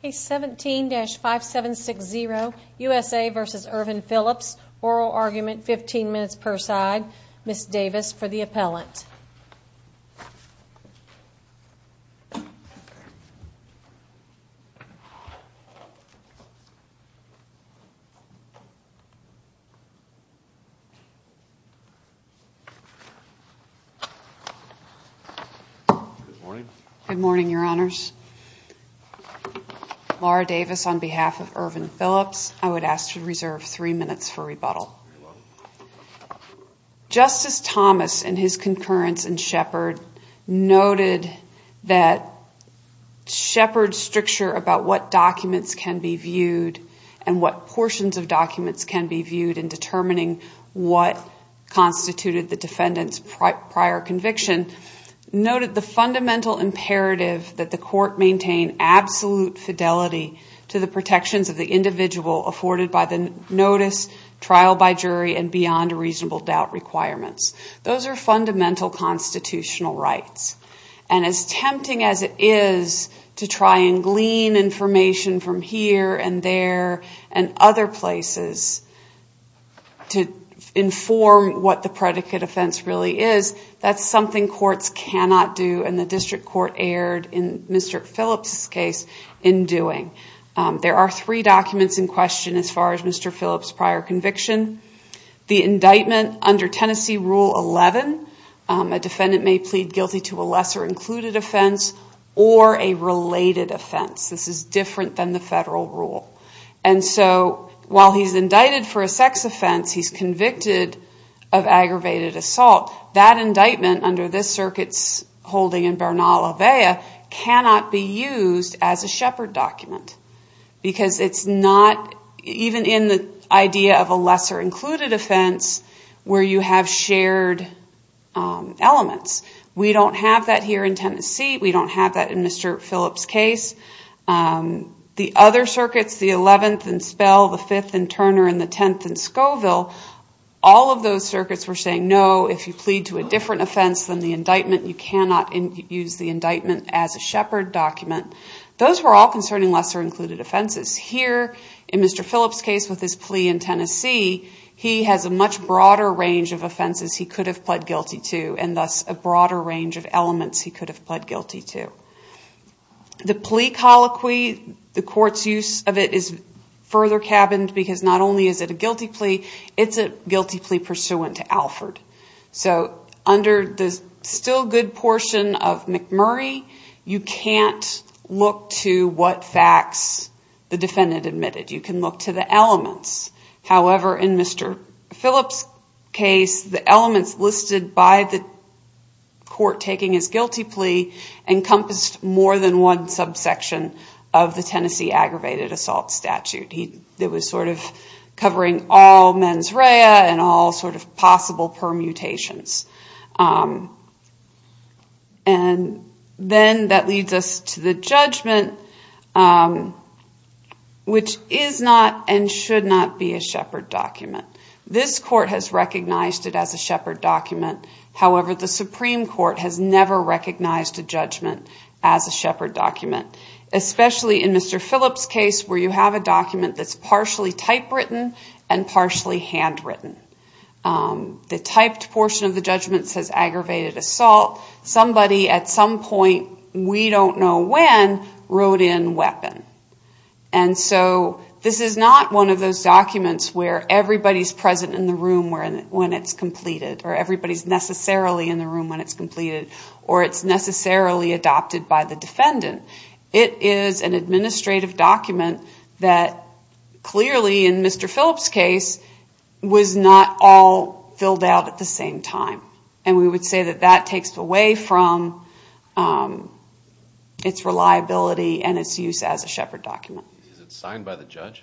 Case 17-5760, USA v. Irvin Phillips. Oral argument, 15 minutes per side. Ms. Davis for the appellant. Ms. Davis on behalf of Irvin Phillips, I would ask to reserve three minutes for rebuttal. Justice Thomas and his concurrence in Shepard noted that Shepard's stricture about what documents can be viewed and what portions of documents can be viewed in determining what constituted the defendant's prior conviction noted the fundamental imperative that the court maintain absolute fidelity to the protections of the individual afforded by the notice, trial by jury, and beyond reasonable doubt requirements. Those are fundamental constitutional rights. And as tempting as it is to try and glean information from here and there and other places to inform what the predicate offense really is, that's something courts cannot do, and the district court erred in Mr. Phillips' case in doing. There are three documents in question as far as Mr. Phillips' prior conviction. The indictment under Tennessee Rule 11, a defendant may plead guilty to a lesser included offense or a related offense. This is different than the federal rule. And so while he's indicted for a sex offense, he's convicted of aggravated assault. That indictment under this circuit's holding in Bernal-Avea cannot be used as a Shepard document because it's not even in the idea of a lesser included offense where you have shared elements. We don't have that here in Tennessee. We don't have that in Mr. Phillips' case. The other circuits, the 11th in Spell, the 5th in Turner, and the 10th in Scoville, all of those circuits were saying no, if you plead to a different offense than the indictment, you cannot use the indictment as a Shepard document. Those were all concerning lesser included offenses. Here in Mr. Phillips' case with his plea in Tennessee, he has a much broader range of offenses he could have pled guilty to and thus a broader range of elements he could have pled guilty to. The plea colloquy, the court's use of it is further cabined because not only is it a guilty plea, it's a guilty plea pursuant to Alford. So under the still good portion of McMurray, you can't look to what facts the defendant admitted. You can look to the elements. However, in Mr. Phillips' case, the elements listed by the court taking his guilty plea encompassed more than one subsection of the Tennessee aggravated assault statute. It was sort of covering all mens rea and all sort of possible permutations. And then that leads us to the judgment, which is not and should not be a Shepard document. This court has recognized it as a Shepard document. However, the Supreme Court has never recognized a judgment as a Shepard document, especially in Mr. Phillips' case where you have a document that's partially typewritten and partially handwritten. The typed portion of the judgment says aggravated assault. Somebody at some point, we don't know when, wrote in weapon. And so this is not one of those documents where everybody's present in the room when it's completed or everybody's necessarily in the room when it's completed or it's necessarily adopted by the defendant. It is an administrative document that clearly, in Mr. Phillips' case, was not all filled out at the same time. And we would say that that takes away from its reliability and its use as a Shepard document. Is it signed by the judge?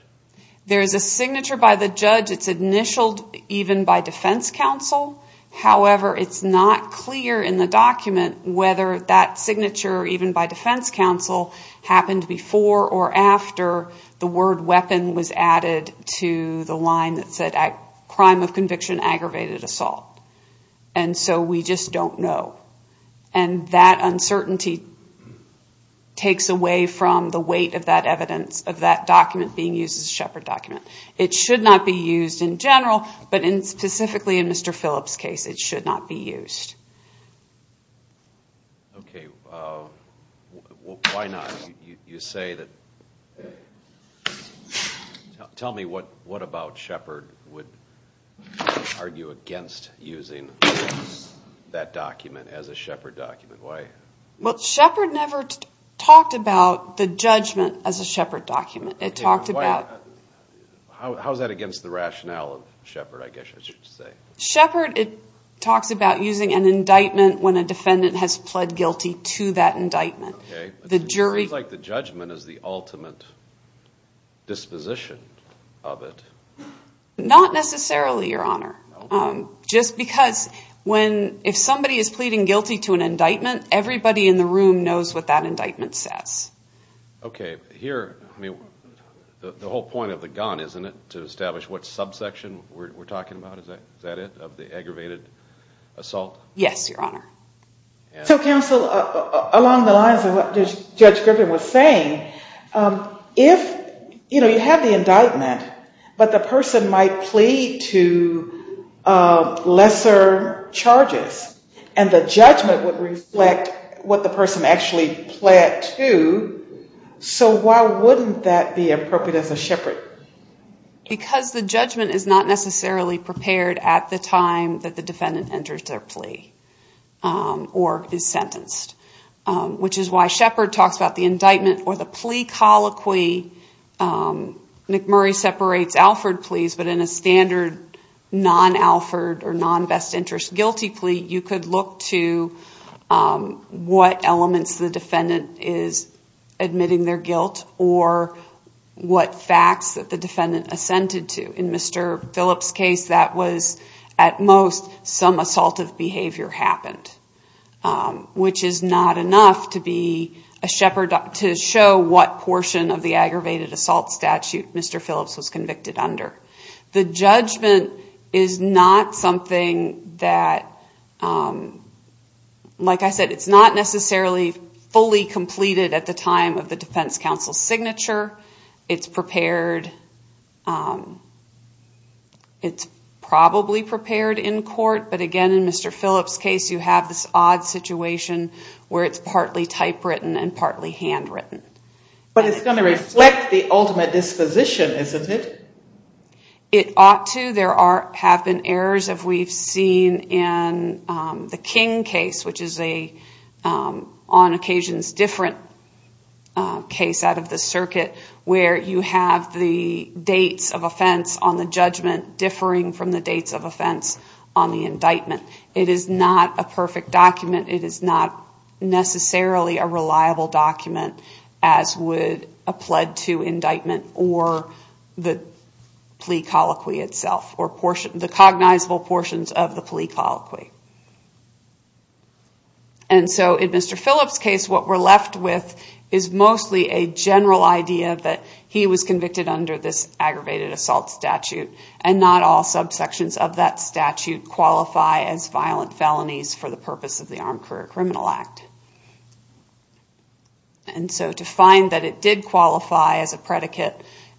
There is a signature by the judge. It's initialed even by defense counsel. However, it's not clear in the document whether that signature, even by defense counsel, happened before or after the word weapon was added to the line that said crime of conviction, aggravated assault. And so we just don't know. And that uncertainty takes away from the weight of that evidence, of that document being used as a Shepard document. It should not be used in general, but specifically in Mr. Phillips' case, it should not be used. Okay. Why not? You say that. Tell me what about Shepard would argue against using that document as a Shepard document. Why? Well, Shepard never talked about the judgment as a Shepard document. How is that against the rationale of Shepard, I guess I should say? Shepard talks about using an indictment when a defendant has pled guilty to that indictment. Okay. It seems like the judgment is the ultimate disposition of it. Not necessarily, Your Honor. Just because if somebody is pleading guilty to an indictment, everybody in the room knows what that indictment says. Okay. Here, I mean, the whole point of the gun, isn't it, to establish what subsection we're talking about? Is that it, of the aggravated assault? Yes, Your Honor. So, counsel, along the lines of what Judge Griffin was saying, if, you know, you have the indictment, but the person might plead to lesser charges and the judgment would reflect what the person actually pled to, so why wouldn't that be appropriate as a Shepard? Because the judgment is not necessarily prepared at the time that the defendant enters their plea or is sentenced, which is why Shepard talks about the indictment or the plea colloquy. McMurray separates Alford pleas, but in a standard non-Alford or non-best interest guilty plea, you could look to what elements the defendant is admitting their guilt or what facts that the defendant assented to. In Mr. Phillips' case, that was, at most, some assaultive behavior happened, which is not enough to show what portion of the aggravated assault statute Mr. Phillips was convicted under. The judgment is not something that, like I said, it's not necessarily fully completed at the time of the defense counsel's signature. It's prepared, it's probably prepared in court, but again, in Mr. Phillips' case, you have this odd situation where it's partly typewritten and partly handwritten. But it's going to reflect the ultimate disposition, isn't it? It ought to. There have been errors, as we've seen in the King case, which is on occasion a different case out of the circuit, where you have the dates of offense on the judgment differing from the dates of offense on the indictment. It is not a perfect document. It is not necessarily a reliable document, as would a pled to indictment or the plea colloquy itself, or the cognizable portions of the plea colloquy. In Mr. Phillips' case, what we're left with is mostly a general idea that he was convicted under this aggravated assault statute, and not all subsections of that statute qualify as violent felonies for the purpose of the Armed Career Criminal Act. To find that it did qualify as a predicate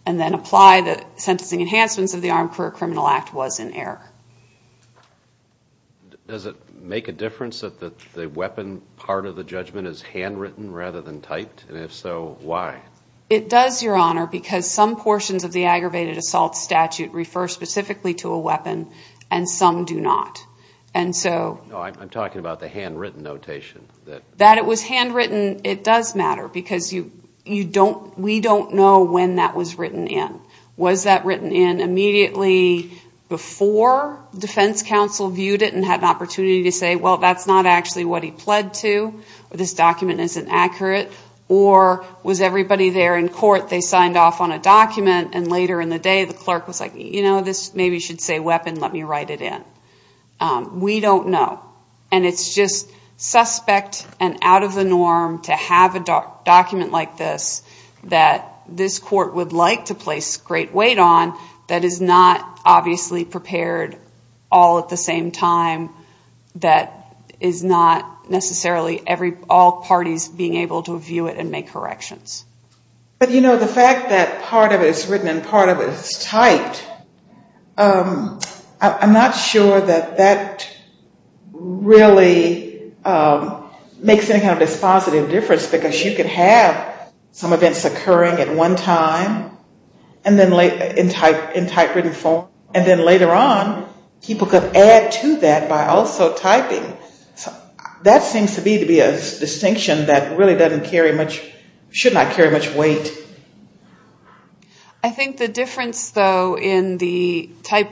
and then apply the sentencing enhancements of the Armed Career Criminal Act was an error. Does it make a difference that the weapon part of the judgment is handwritten rather than typed? And if so, why? It does, Your Honor, because some portions of the aggravated assault statute refer specifically to a weapon, and some do not. I'm talking about the handwritten notation. That it was handwritten, it does matter, because we don't know when that was written in. Was that written in immediately before defense counsel viewed it and had an opportunity to say, well, that's not actually what he pled to, or this document isn't accurate? Or was everybody there in court, they signed off on a document, and later in the day the clerk was like, you know, this maybe should say weapon, let me write it in. We don't know. And it's just suspect and out of the norm to have a document like this that this court would like to place great weight on that is not obviously prepared all at the same time, that is not necessarily all parties being able to view it and make corrections. But, you know, the fact that part of it is written and part of it is typed, I'm not sure that that really makes any kind of dispositive difference, because you could have some events occurring at one time in typewritten form, and then later on people could add to that by also typing. That seems to be a distinction that really doesn't carry much, should not carry much weight. I think the difference, though, in the type,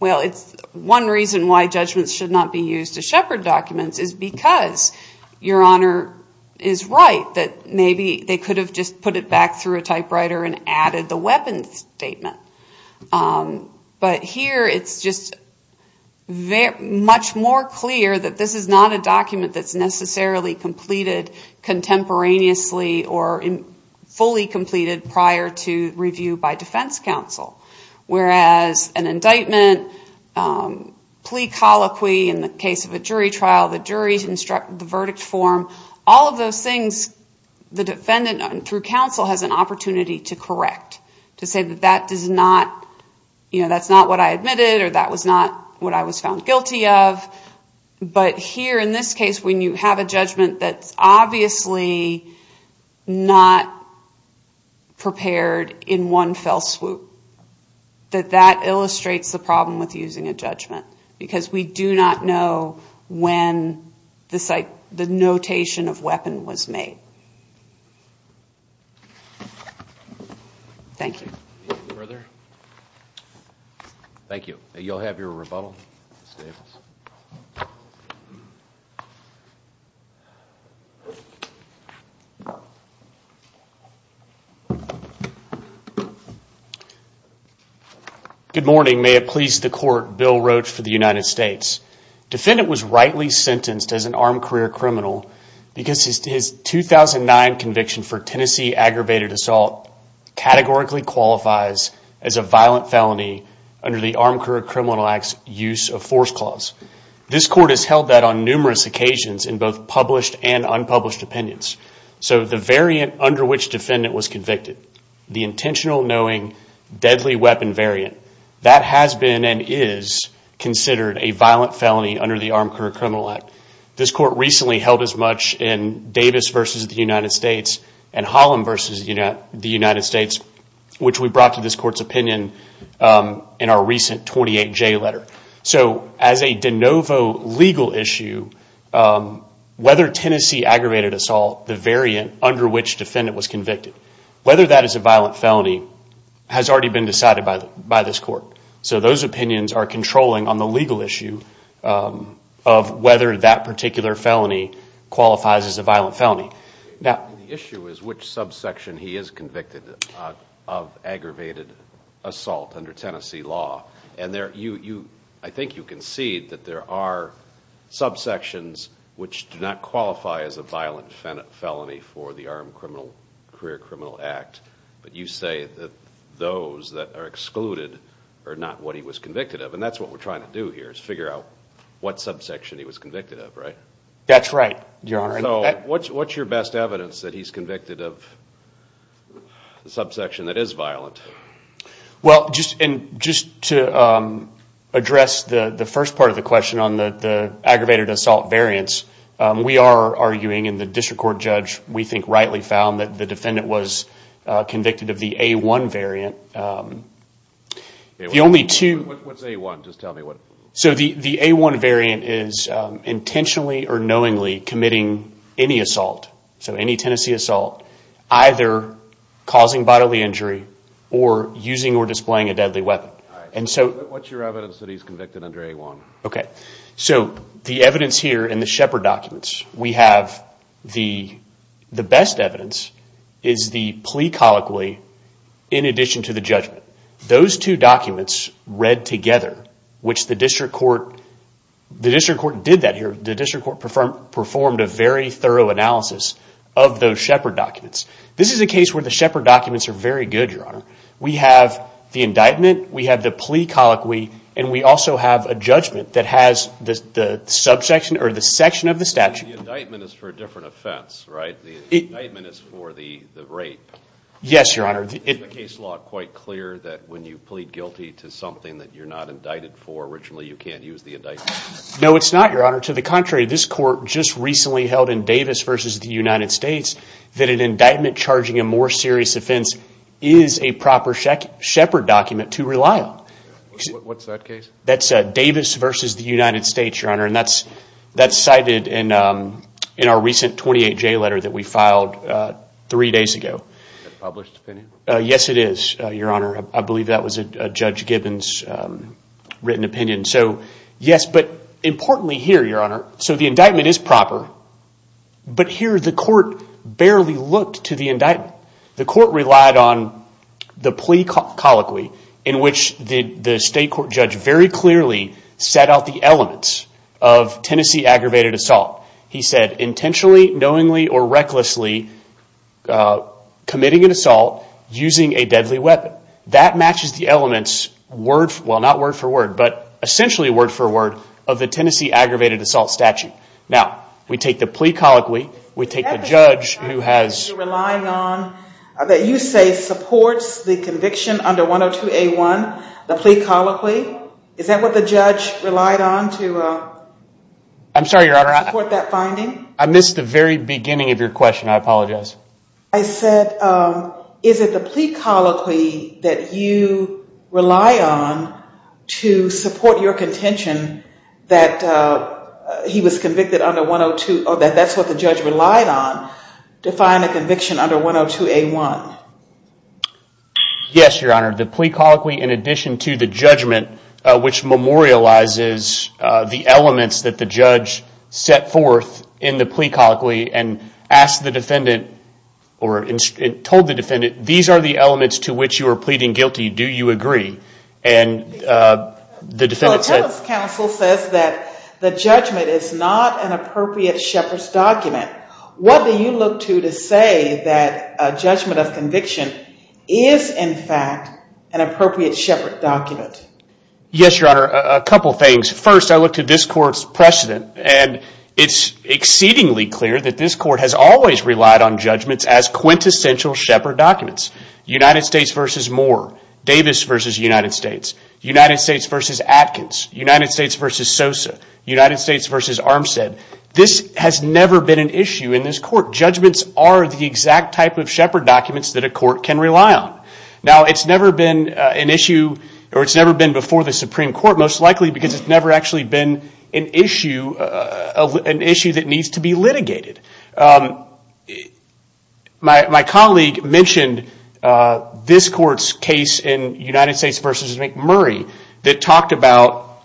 well, it's one reason why judgments should not be used to shepherd documents is because your Honor is right, that maybe they could have just put it back through a typewriter and added the weapon statement. But here it's just much more clear that this is not a document that's necessarily completed contemporaneously or fully completed prior to review by defense counsel. Whereas an indictment, plea colloquy in the case of a jury trial, the jury's instruct the verdict form, all of those things the defendant through counsel has an opportunity to correct, to say that that's not what I admitted or that was not what I was found guilty of. But here in this case when you have a judgment that's obviously not prepared in one fell swoop, that that illustrates the problem with using a judgment, because we do not know when the notation of weapon was made. Thank you. Thank you. You'll have your rebuttal. Good morning. May it please the Court. Bill Roach for the United States. Defendant was rightly sentenced as an armed career criminal because his 2009 conviction for Tennessee aggravated assault categorically qualifies as a violent felony under the Armed Career Criminal Act's use of force clause. This court has held that on numerous occasions in both published and unpublished opinions. So the variant under which defendant was convicted, the intentional knowing deadly weapon variant, that has been and is considered a violent felony under the Armed Career Criminal Act. This court recently held as much in Davis versus the United States and Holland versus the United States, which we brought to this court's opinion in our recent 28J letter. So as a de novo legal issue, whether Tennessee aggravated assault, the variant under which defendant was convicted, whether that is a violent felony, has already been decided by this court. So those opinions are controlling on the legal issue of whether that particular felony qualifies as a violent felony. The issue is which subsection he is convicted of aggravated assault under Tennessee law. And I think you concede that there are subsections which do not qualify as a violent felony for the Armed Career Criminal Act. But you say that those that are excluded are not what he was convicted of. And that's what we're trying to do here is figure out what subsection he was convicted of, right? That's right, Your Honor. So what's your best evidence that he's convicted of a subsection that is violent? Well, just to address the first part of the question on the aggravated assault variants, we are arguing and the district court judge, we think, rightly found that the defendant was convicted of the A1 variant. What's A1? Just tell me. So the A1 variant is intentionally or knowingly committing any assault, so any Tennessee assault, either causing bodily injury or using or displaying a deadly weapon. What's your evidence that he's convicted under A1? Okay, so the evidence here in the Shepard documents, we have the best evidence is the plea colloquy in addition to the judgment. Those two documents read together, which the district court did that here. The district court performed a very thorough analysis of those Shepard documents. This is a case where the Shepard documents are very good, Your Honor. We have the indictment, we have the plea colloquy, and we also have a judgment that has the subsection or the section of the statute. The indictment is for a different offense, right? The indictment is for the rape. Yes, Your Honor. Is the case law quite clear that when you plead guilty to something that you're not indicted for, originally you can't use the indictment? No, it's not, Your Honor. To the contrary, this court just recently held in Davis versus the United States that an indictment charging a more serious offense is a proper Shepard document to rely on. What's that case? That's Davis versus the United States, Your Honor, and that's cited in our recent 28-J letter that we filed three days ago. Is that a published opinion? Yes, it is, Your Honor. I believe that was Judge Gibbons' written opinion. Yes, but importantly here, Your Honor, so the indictment is proper, but here the court barely looked to the indictment. The court relied on the plea colloquy in which the state court judge very clearly set out the elements of Tennessee aggravated assault. He said intentionally, knowingly, or recklessly committing an assault using a deadly weapon. That matches the elements, well, not word for word, but essentially word for word of the Tennessee aggravated assault statute. Now, we take the plea colloquy, we take the judge who has That you say supports the conviction under 102A1, the plea colloquy, is that what the judge relied on to support that finding? I missed the very beginning of your question. I apologize. I said is it the plea colloquy that you rely on to support your contention that he was convicted under 102, or that that's what the judge relied on to find a conviction under 102A1? Yes, Your Honor. The plea colloquy, in addition to the judgment, which memorializes the elements that the judge set forth in the plea colloquy and asked the defendant, or told the defendant, these are the elements to which you are pleading guilty, do you agree? And the defendant said Well, Ellis Counsel says that the judgment is not an appropriate shepherd's document. What do you look to to say that a judgment of conviction is, in fact, an appropriate shepherd document? Yes, Your Honor, a couple things. First, I look to this court's precedent, and it's exceedingly clear that this court has always relied on judgments as quintessential shepherd documents. United States v. Moore, Davis v. United States, United States v. Atkins, United States v. Sosa, United States v. Armstead. This has never been an issue in this court. Judgments are the exact type of shepherd documents that a court can rely on. Now, it's never been an issue, or it's never been before the Supreme Court, most likely because it's never actually been an issue that needs to be litigated. My colleague mentioned this court's case in United States v. McMurray that talked about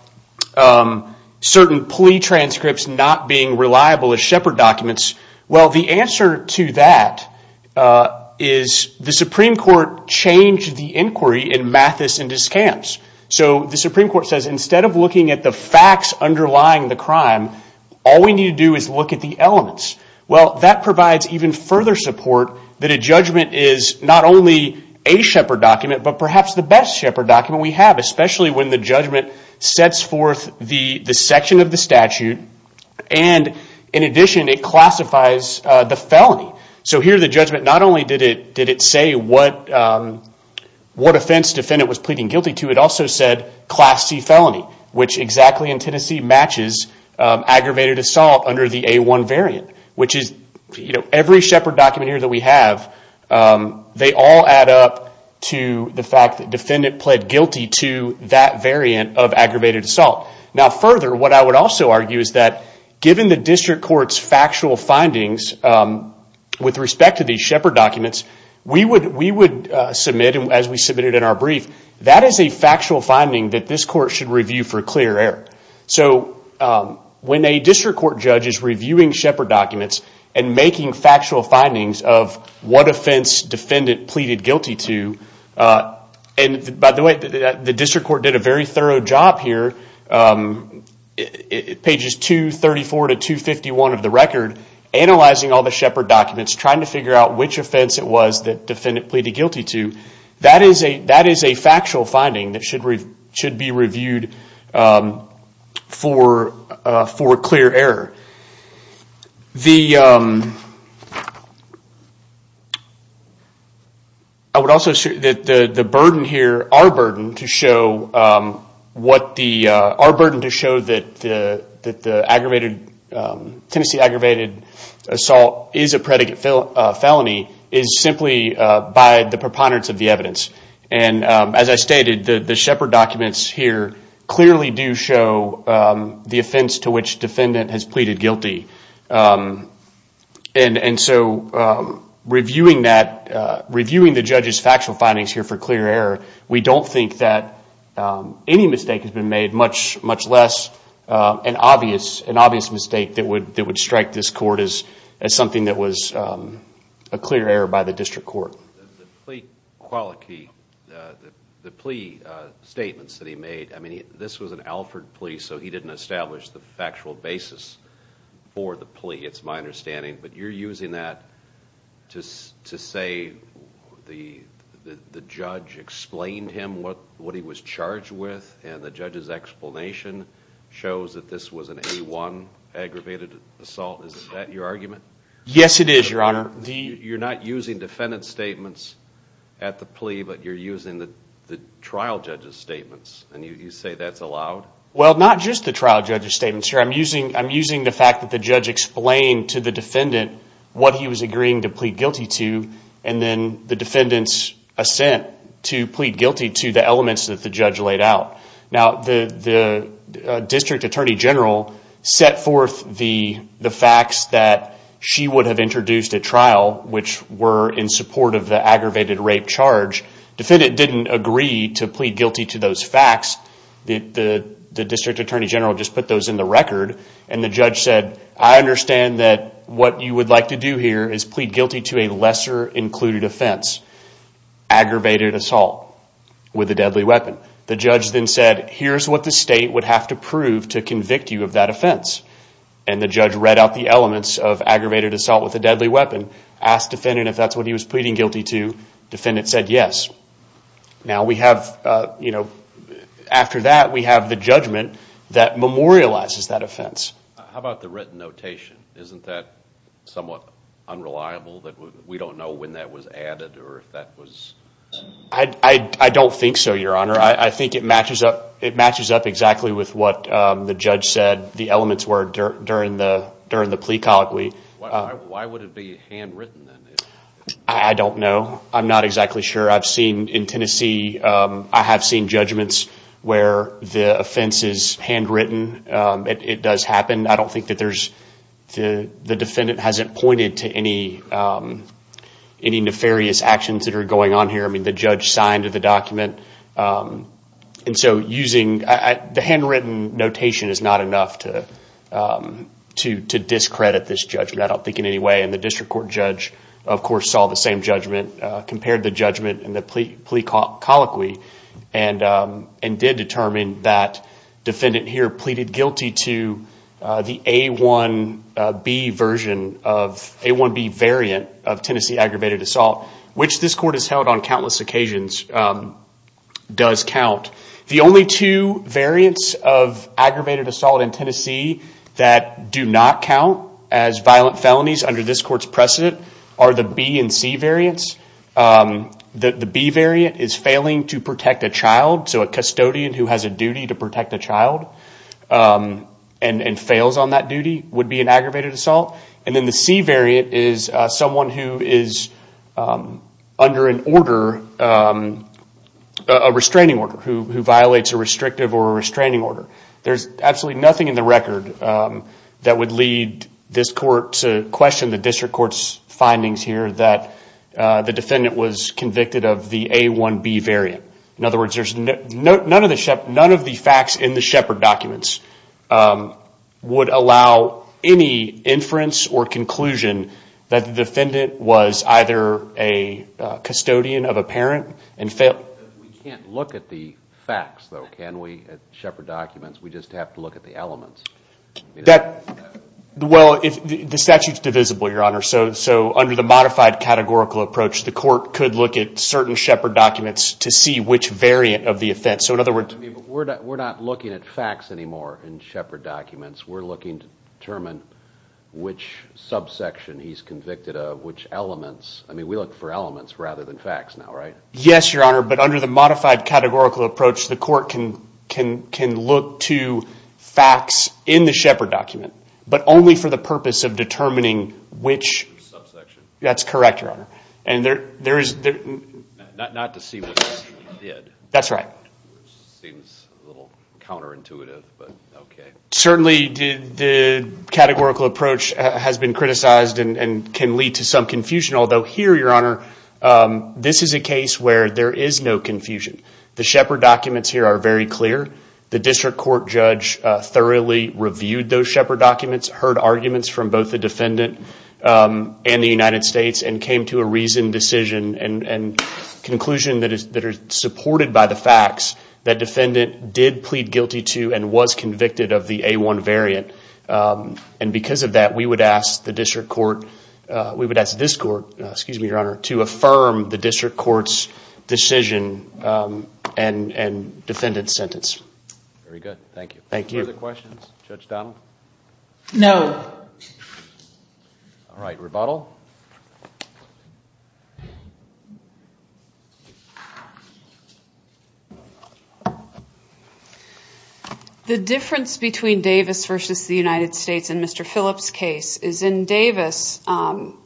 certain plea transcripts not being reliable as shepherd documents. Well, the answer to that is the Supreme Court changed the inquiry in Mathis and Descamps. So the Supreme Court says instead of looking at the facts underlying the crime, all we need to do is look at the elements. Well, that provides even further support that a judgment is not only a shepherd document, but perhaps the best shepherd document we have, especially when the judgment sets forth the section of the statute, and in addition, it classifies the felony. So here the judgment not only did it say what offense defendant was pleading guilty to, it also said Class C felony, which exactly in Tennessee matches aggravated assault under the A1 variant, which is every shepherd document here that we have, they all add up to the fact that defendant pled guilty to that variant of aggravated assault. Now further, what I would also argue is that given the district court's factual findings with respect to these shepherd documents, we would submit, as we submitted in our brief, that is a factual finding that this court should review for clear error. So when a district court judge is reviewing shepherd documents and making factual findings of what offense defendant pleaded guilty to, and by the way, the district court did a very thorough job here, pages 234 to 251 of the record, analyzing all the shepherd documents, trying to figure out which offense it was that defendant pleaded guilty to, that is a factual finding that should be reviewed for clear error. I would also say that the burden here, our burden to show that the Tennessee aggravated assault is a predicate felony is simply by the preponderance of the evidence. And as I stated, the shepherd documents here clearly do show the offense to which defendant has pleaded guilty. And so reviewing that, reviewing the judge's factual findings here for clear error, we don't think that any mistake has been made, much less an obvious mistake that would strike this court as something that was a clear error by the district court. The plea statements that he made, this was an Alford plea, so he didn't establish the factual basis for the plea, it's my understanding. But you're using that to say the judge explained him what he was charged with, and the judge's explanation shows that this was an A1 aggravated assault. Is that your argument? Yes, it is, Your Honor. You're not using defendant's statements at the plea, but you're using the trial judge's statements, and you say that's allowed? Well, not just the trial judge's statements here. I'm using the fact that the judge explained to the defendant what he was agreeing to plead guilty to, and then the defendant's assent to plead guilty to the elements that the judge laid out. Now, the district attorney general set forth the facts that she would have introduced at trial, which were in support of the aggravated rape charge. The defendant didn't agree to plead guilty to those facts. The district attorney general just put those in the record, and the judge said, I understand that what you would like to do here is plead guilty to a lesser included offense, aggravated assault with a deadly weapon. The judge then said, here's what the state would have to prove to convict you of that offense. And the judge read out the elements of aggravated assault with a deadly weapon, asked defendant if that's what he was pleading guilty to, defendant said yes. Now we have, you know, after that we have the judgment that memorializes that offense. How about the written notation? Isn't that somewhat unreliable that we don't know when that was added or if that was... I don't think so, Your Honor. I think it matches up exactly with what the judge said the elements were during the plea colloquy. Why would it be handwritten? I don't know. I'm not exactly sure. I've seen in Tennessee, I have seen judgments where the offense is handwritten. It does happen. I don't think that the defendant hasn't pointed to any nefarious actions that are going on here. I mean, the judge signed the document. And so using the handwritten notation is not enough to discredit this judgment, I don't think in any way. And the district court judge, of course, saw the same judgment, compared the judgment and the plea colloquy, and did determine that defendant here pleaded guilty to the A1B version of, A1B variant of Tennessee aggravated assault, which this court has held on countless occasions, does count. The only two variants of aggravated assault in Tennessee that do not count as violent felonies under this court's precedent are the B and C variants. The B variant is failing to protect a child. So a custodian who has a duty to protect a child and fails on that duty would be an aggravated assault. And then the C variant is someone who is under an order, a restraining order, who violates a restrictive or a restraining order. There's absolutely nothing in the record that would lead this court to question the district court's findings here that the defendant was convicted of the A1B variant. In other words, none of the facts in the Shepard documents would allow any inference or conclusion that the defendant was either a custodian of a parent and failed. We can't look at the facts, though, can we, at Shepard documents? We just have to look at the elements. Well, the statute's divisible, Your Honor, so under the modified categorical approach, the court could look at certain Shepard documents to see which variant of the offense. We're not looking at facts anymore in Shepard documents. We're looking to determine which subsection he's convicted of, which elements. I mean, we look for elements rather than facts now, right? Yes, Your Honor, but under the modified categorical approach, the court can look to facts in the Shepard document, but only for the purpose of determining which subsection. That's correct, Your Honor. Not to see what he did. That's right. Seems a little counterintuitive, but okay. Certainly, the categorical approach has been criticized and can lead to some confusion, although here, Your Honor, this is a case where there is no confusion. The Shepard documents here are very clear. The district court judge thoroughly reviewed those Shepard documents, heard arguments from both the defendant and the United States, and came to a reasoned decision and conclusion that is supported by the facts that defendant did plead guilty to and was convicted of the A1 variant. And because of that, we would ask the district court, we would ask this court, excuse me, Your Honor, to affirm the district court's decision and defendant's sentence. Very good. Thank you. Thank you. Further questions? Judge Donnell? No. All right, rebuttal. The difference between Davis versus the United States in Mr. Phillips' case is in Davis,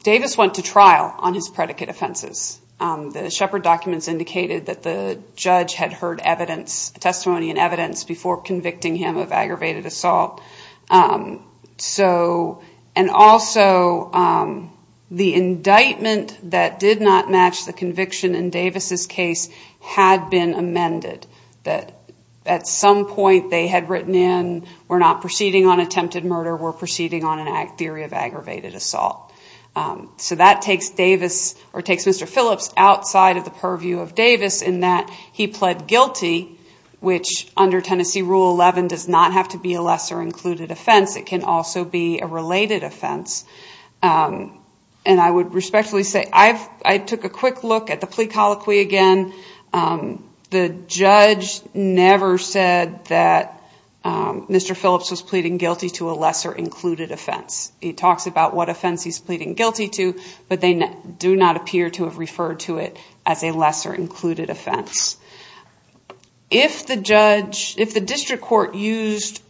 Davis went to trial on his predicate offenses. The Shepard documents indicated that the judge had heard testimony and evidence before convicting him of aggravated assault. And also, the indictment that did not match the conviction in Davis' case had been amended. At some point, they had written in, we're not proceeding on attempted murder, we're proceeding on a theory of aggravated assault. So that takes Mr. Phillips outside of the purview of Davis in that he pled guilty, which under Tennessee Rule 11 does not have to be a lesser included offense. It can also be a related offense. And I would respectfully say I took a quick look at the plea colloquy again. The judge never said that Mr. Phillips was pleading guilty to a lesser included offense. He talks about what offense he's pleading guilty to, but they do not appear to have referred to it as a lesser included offense. If the district court used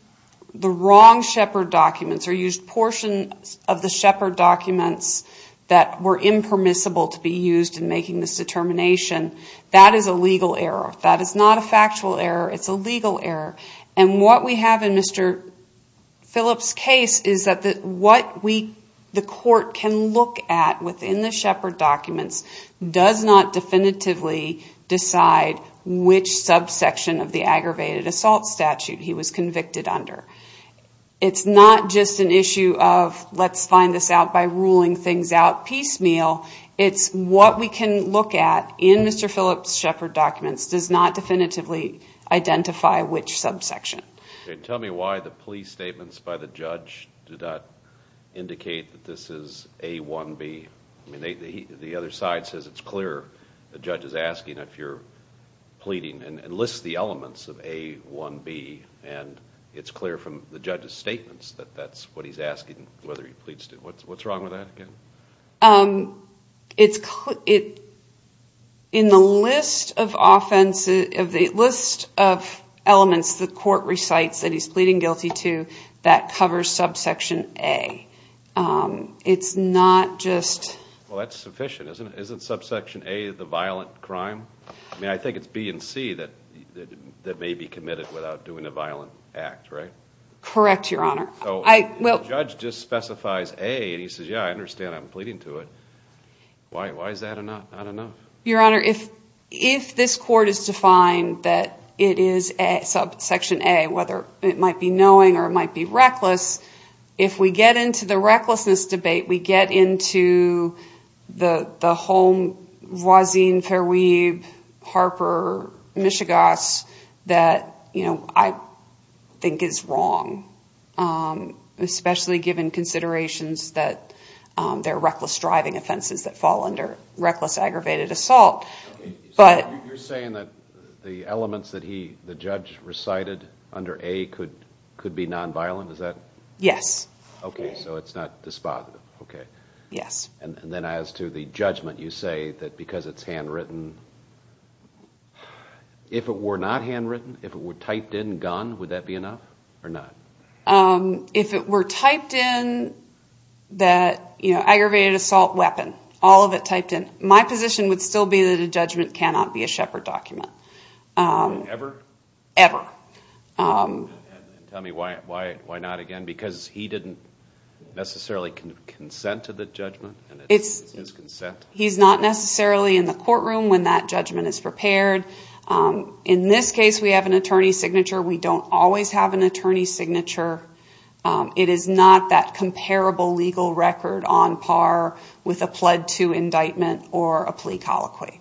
the wrong Shepard documents or used portions of the Shepard documents that were impermissible to be used in making this determination, that is a legal error. That is not a factual error. It's a legal error. And what we have in Mr. Phillips' case is that what the court can look at within the Shepard documents does not definitively decide which subsection of the aggravated assault statute he was convicted under. It's not just an issue of let's find this out by ruling things out piecemeal. It's what we can look at in Mr. Phillips' Shepard documents does not definitively identify which subsection. Tell me why the plea statements by the judge do not indicate that this is A1B. The other side says it's clear the judge is asking if you're pleading and lists the elements of A1B, and it's clear from the judge's statements that that's what he's asking whether he pleads to. What's wrong with that again? In the list of elements the court recites that he's pleading guilty to, that covers subsection A. It's not just... Well, that's sufficient, isn't it? Isn't subsection A the violent crime? I mean, I think it's B and C that may be committed without doing a violent act, right? Correct, Your Honor. The judge just specifies A, and he says, yeah, I understand I'm pleading to it. Why is that not enough? Your Honor, if this court is defined that it is subsection A, whether it might be knowing or it might be reckless, if we get into the recklessness debate, we get into the whole Roisin, Fairweave, Harper, Michigas, that I think is wrong, especially given considerations that there are reckless driving offenses that fall under reckless aggravated assault. You're saying that the elements that the judge recited under A could be nonviolent? Is that...? Yes. Okay, so it's not dispositive. Yes. And then as to the judgment, you say that because it's handwritten, if it were not handwritten, if it were typed in gun, would that be enough or not? If it were typed in that aggravated assault weapon, all of it typed in, my position would still be that a judgment cannot be a Shepard document. Ever? Ever. Tell me why not again, because he didn't necessarily consent to the judgment? It's his consent. He's not necessarily in the courtroom when that judgment is prepared. In this case, we have an attorney's signature. We don't always have an attorney's signature. It is not that comparable legal record on par with a pled to indictment or a plea colloquy.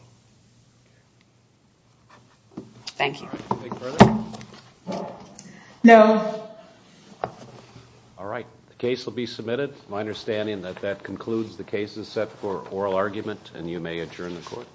Thank you. All right. Any further? No. All right. The case will be submitted. My understanding that that concludes the case is set for oral argument, and you may adjourn the court.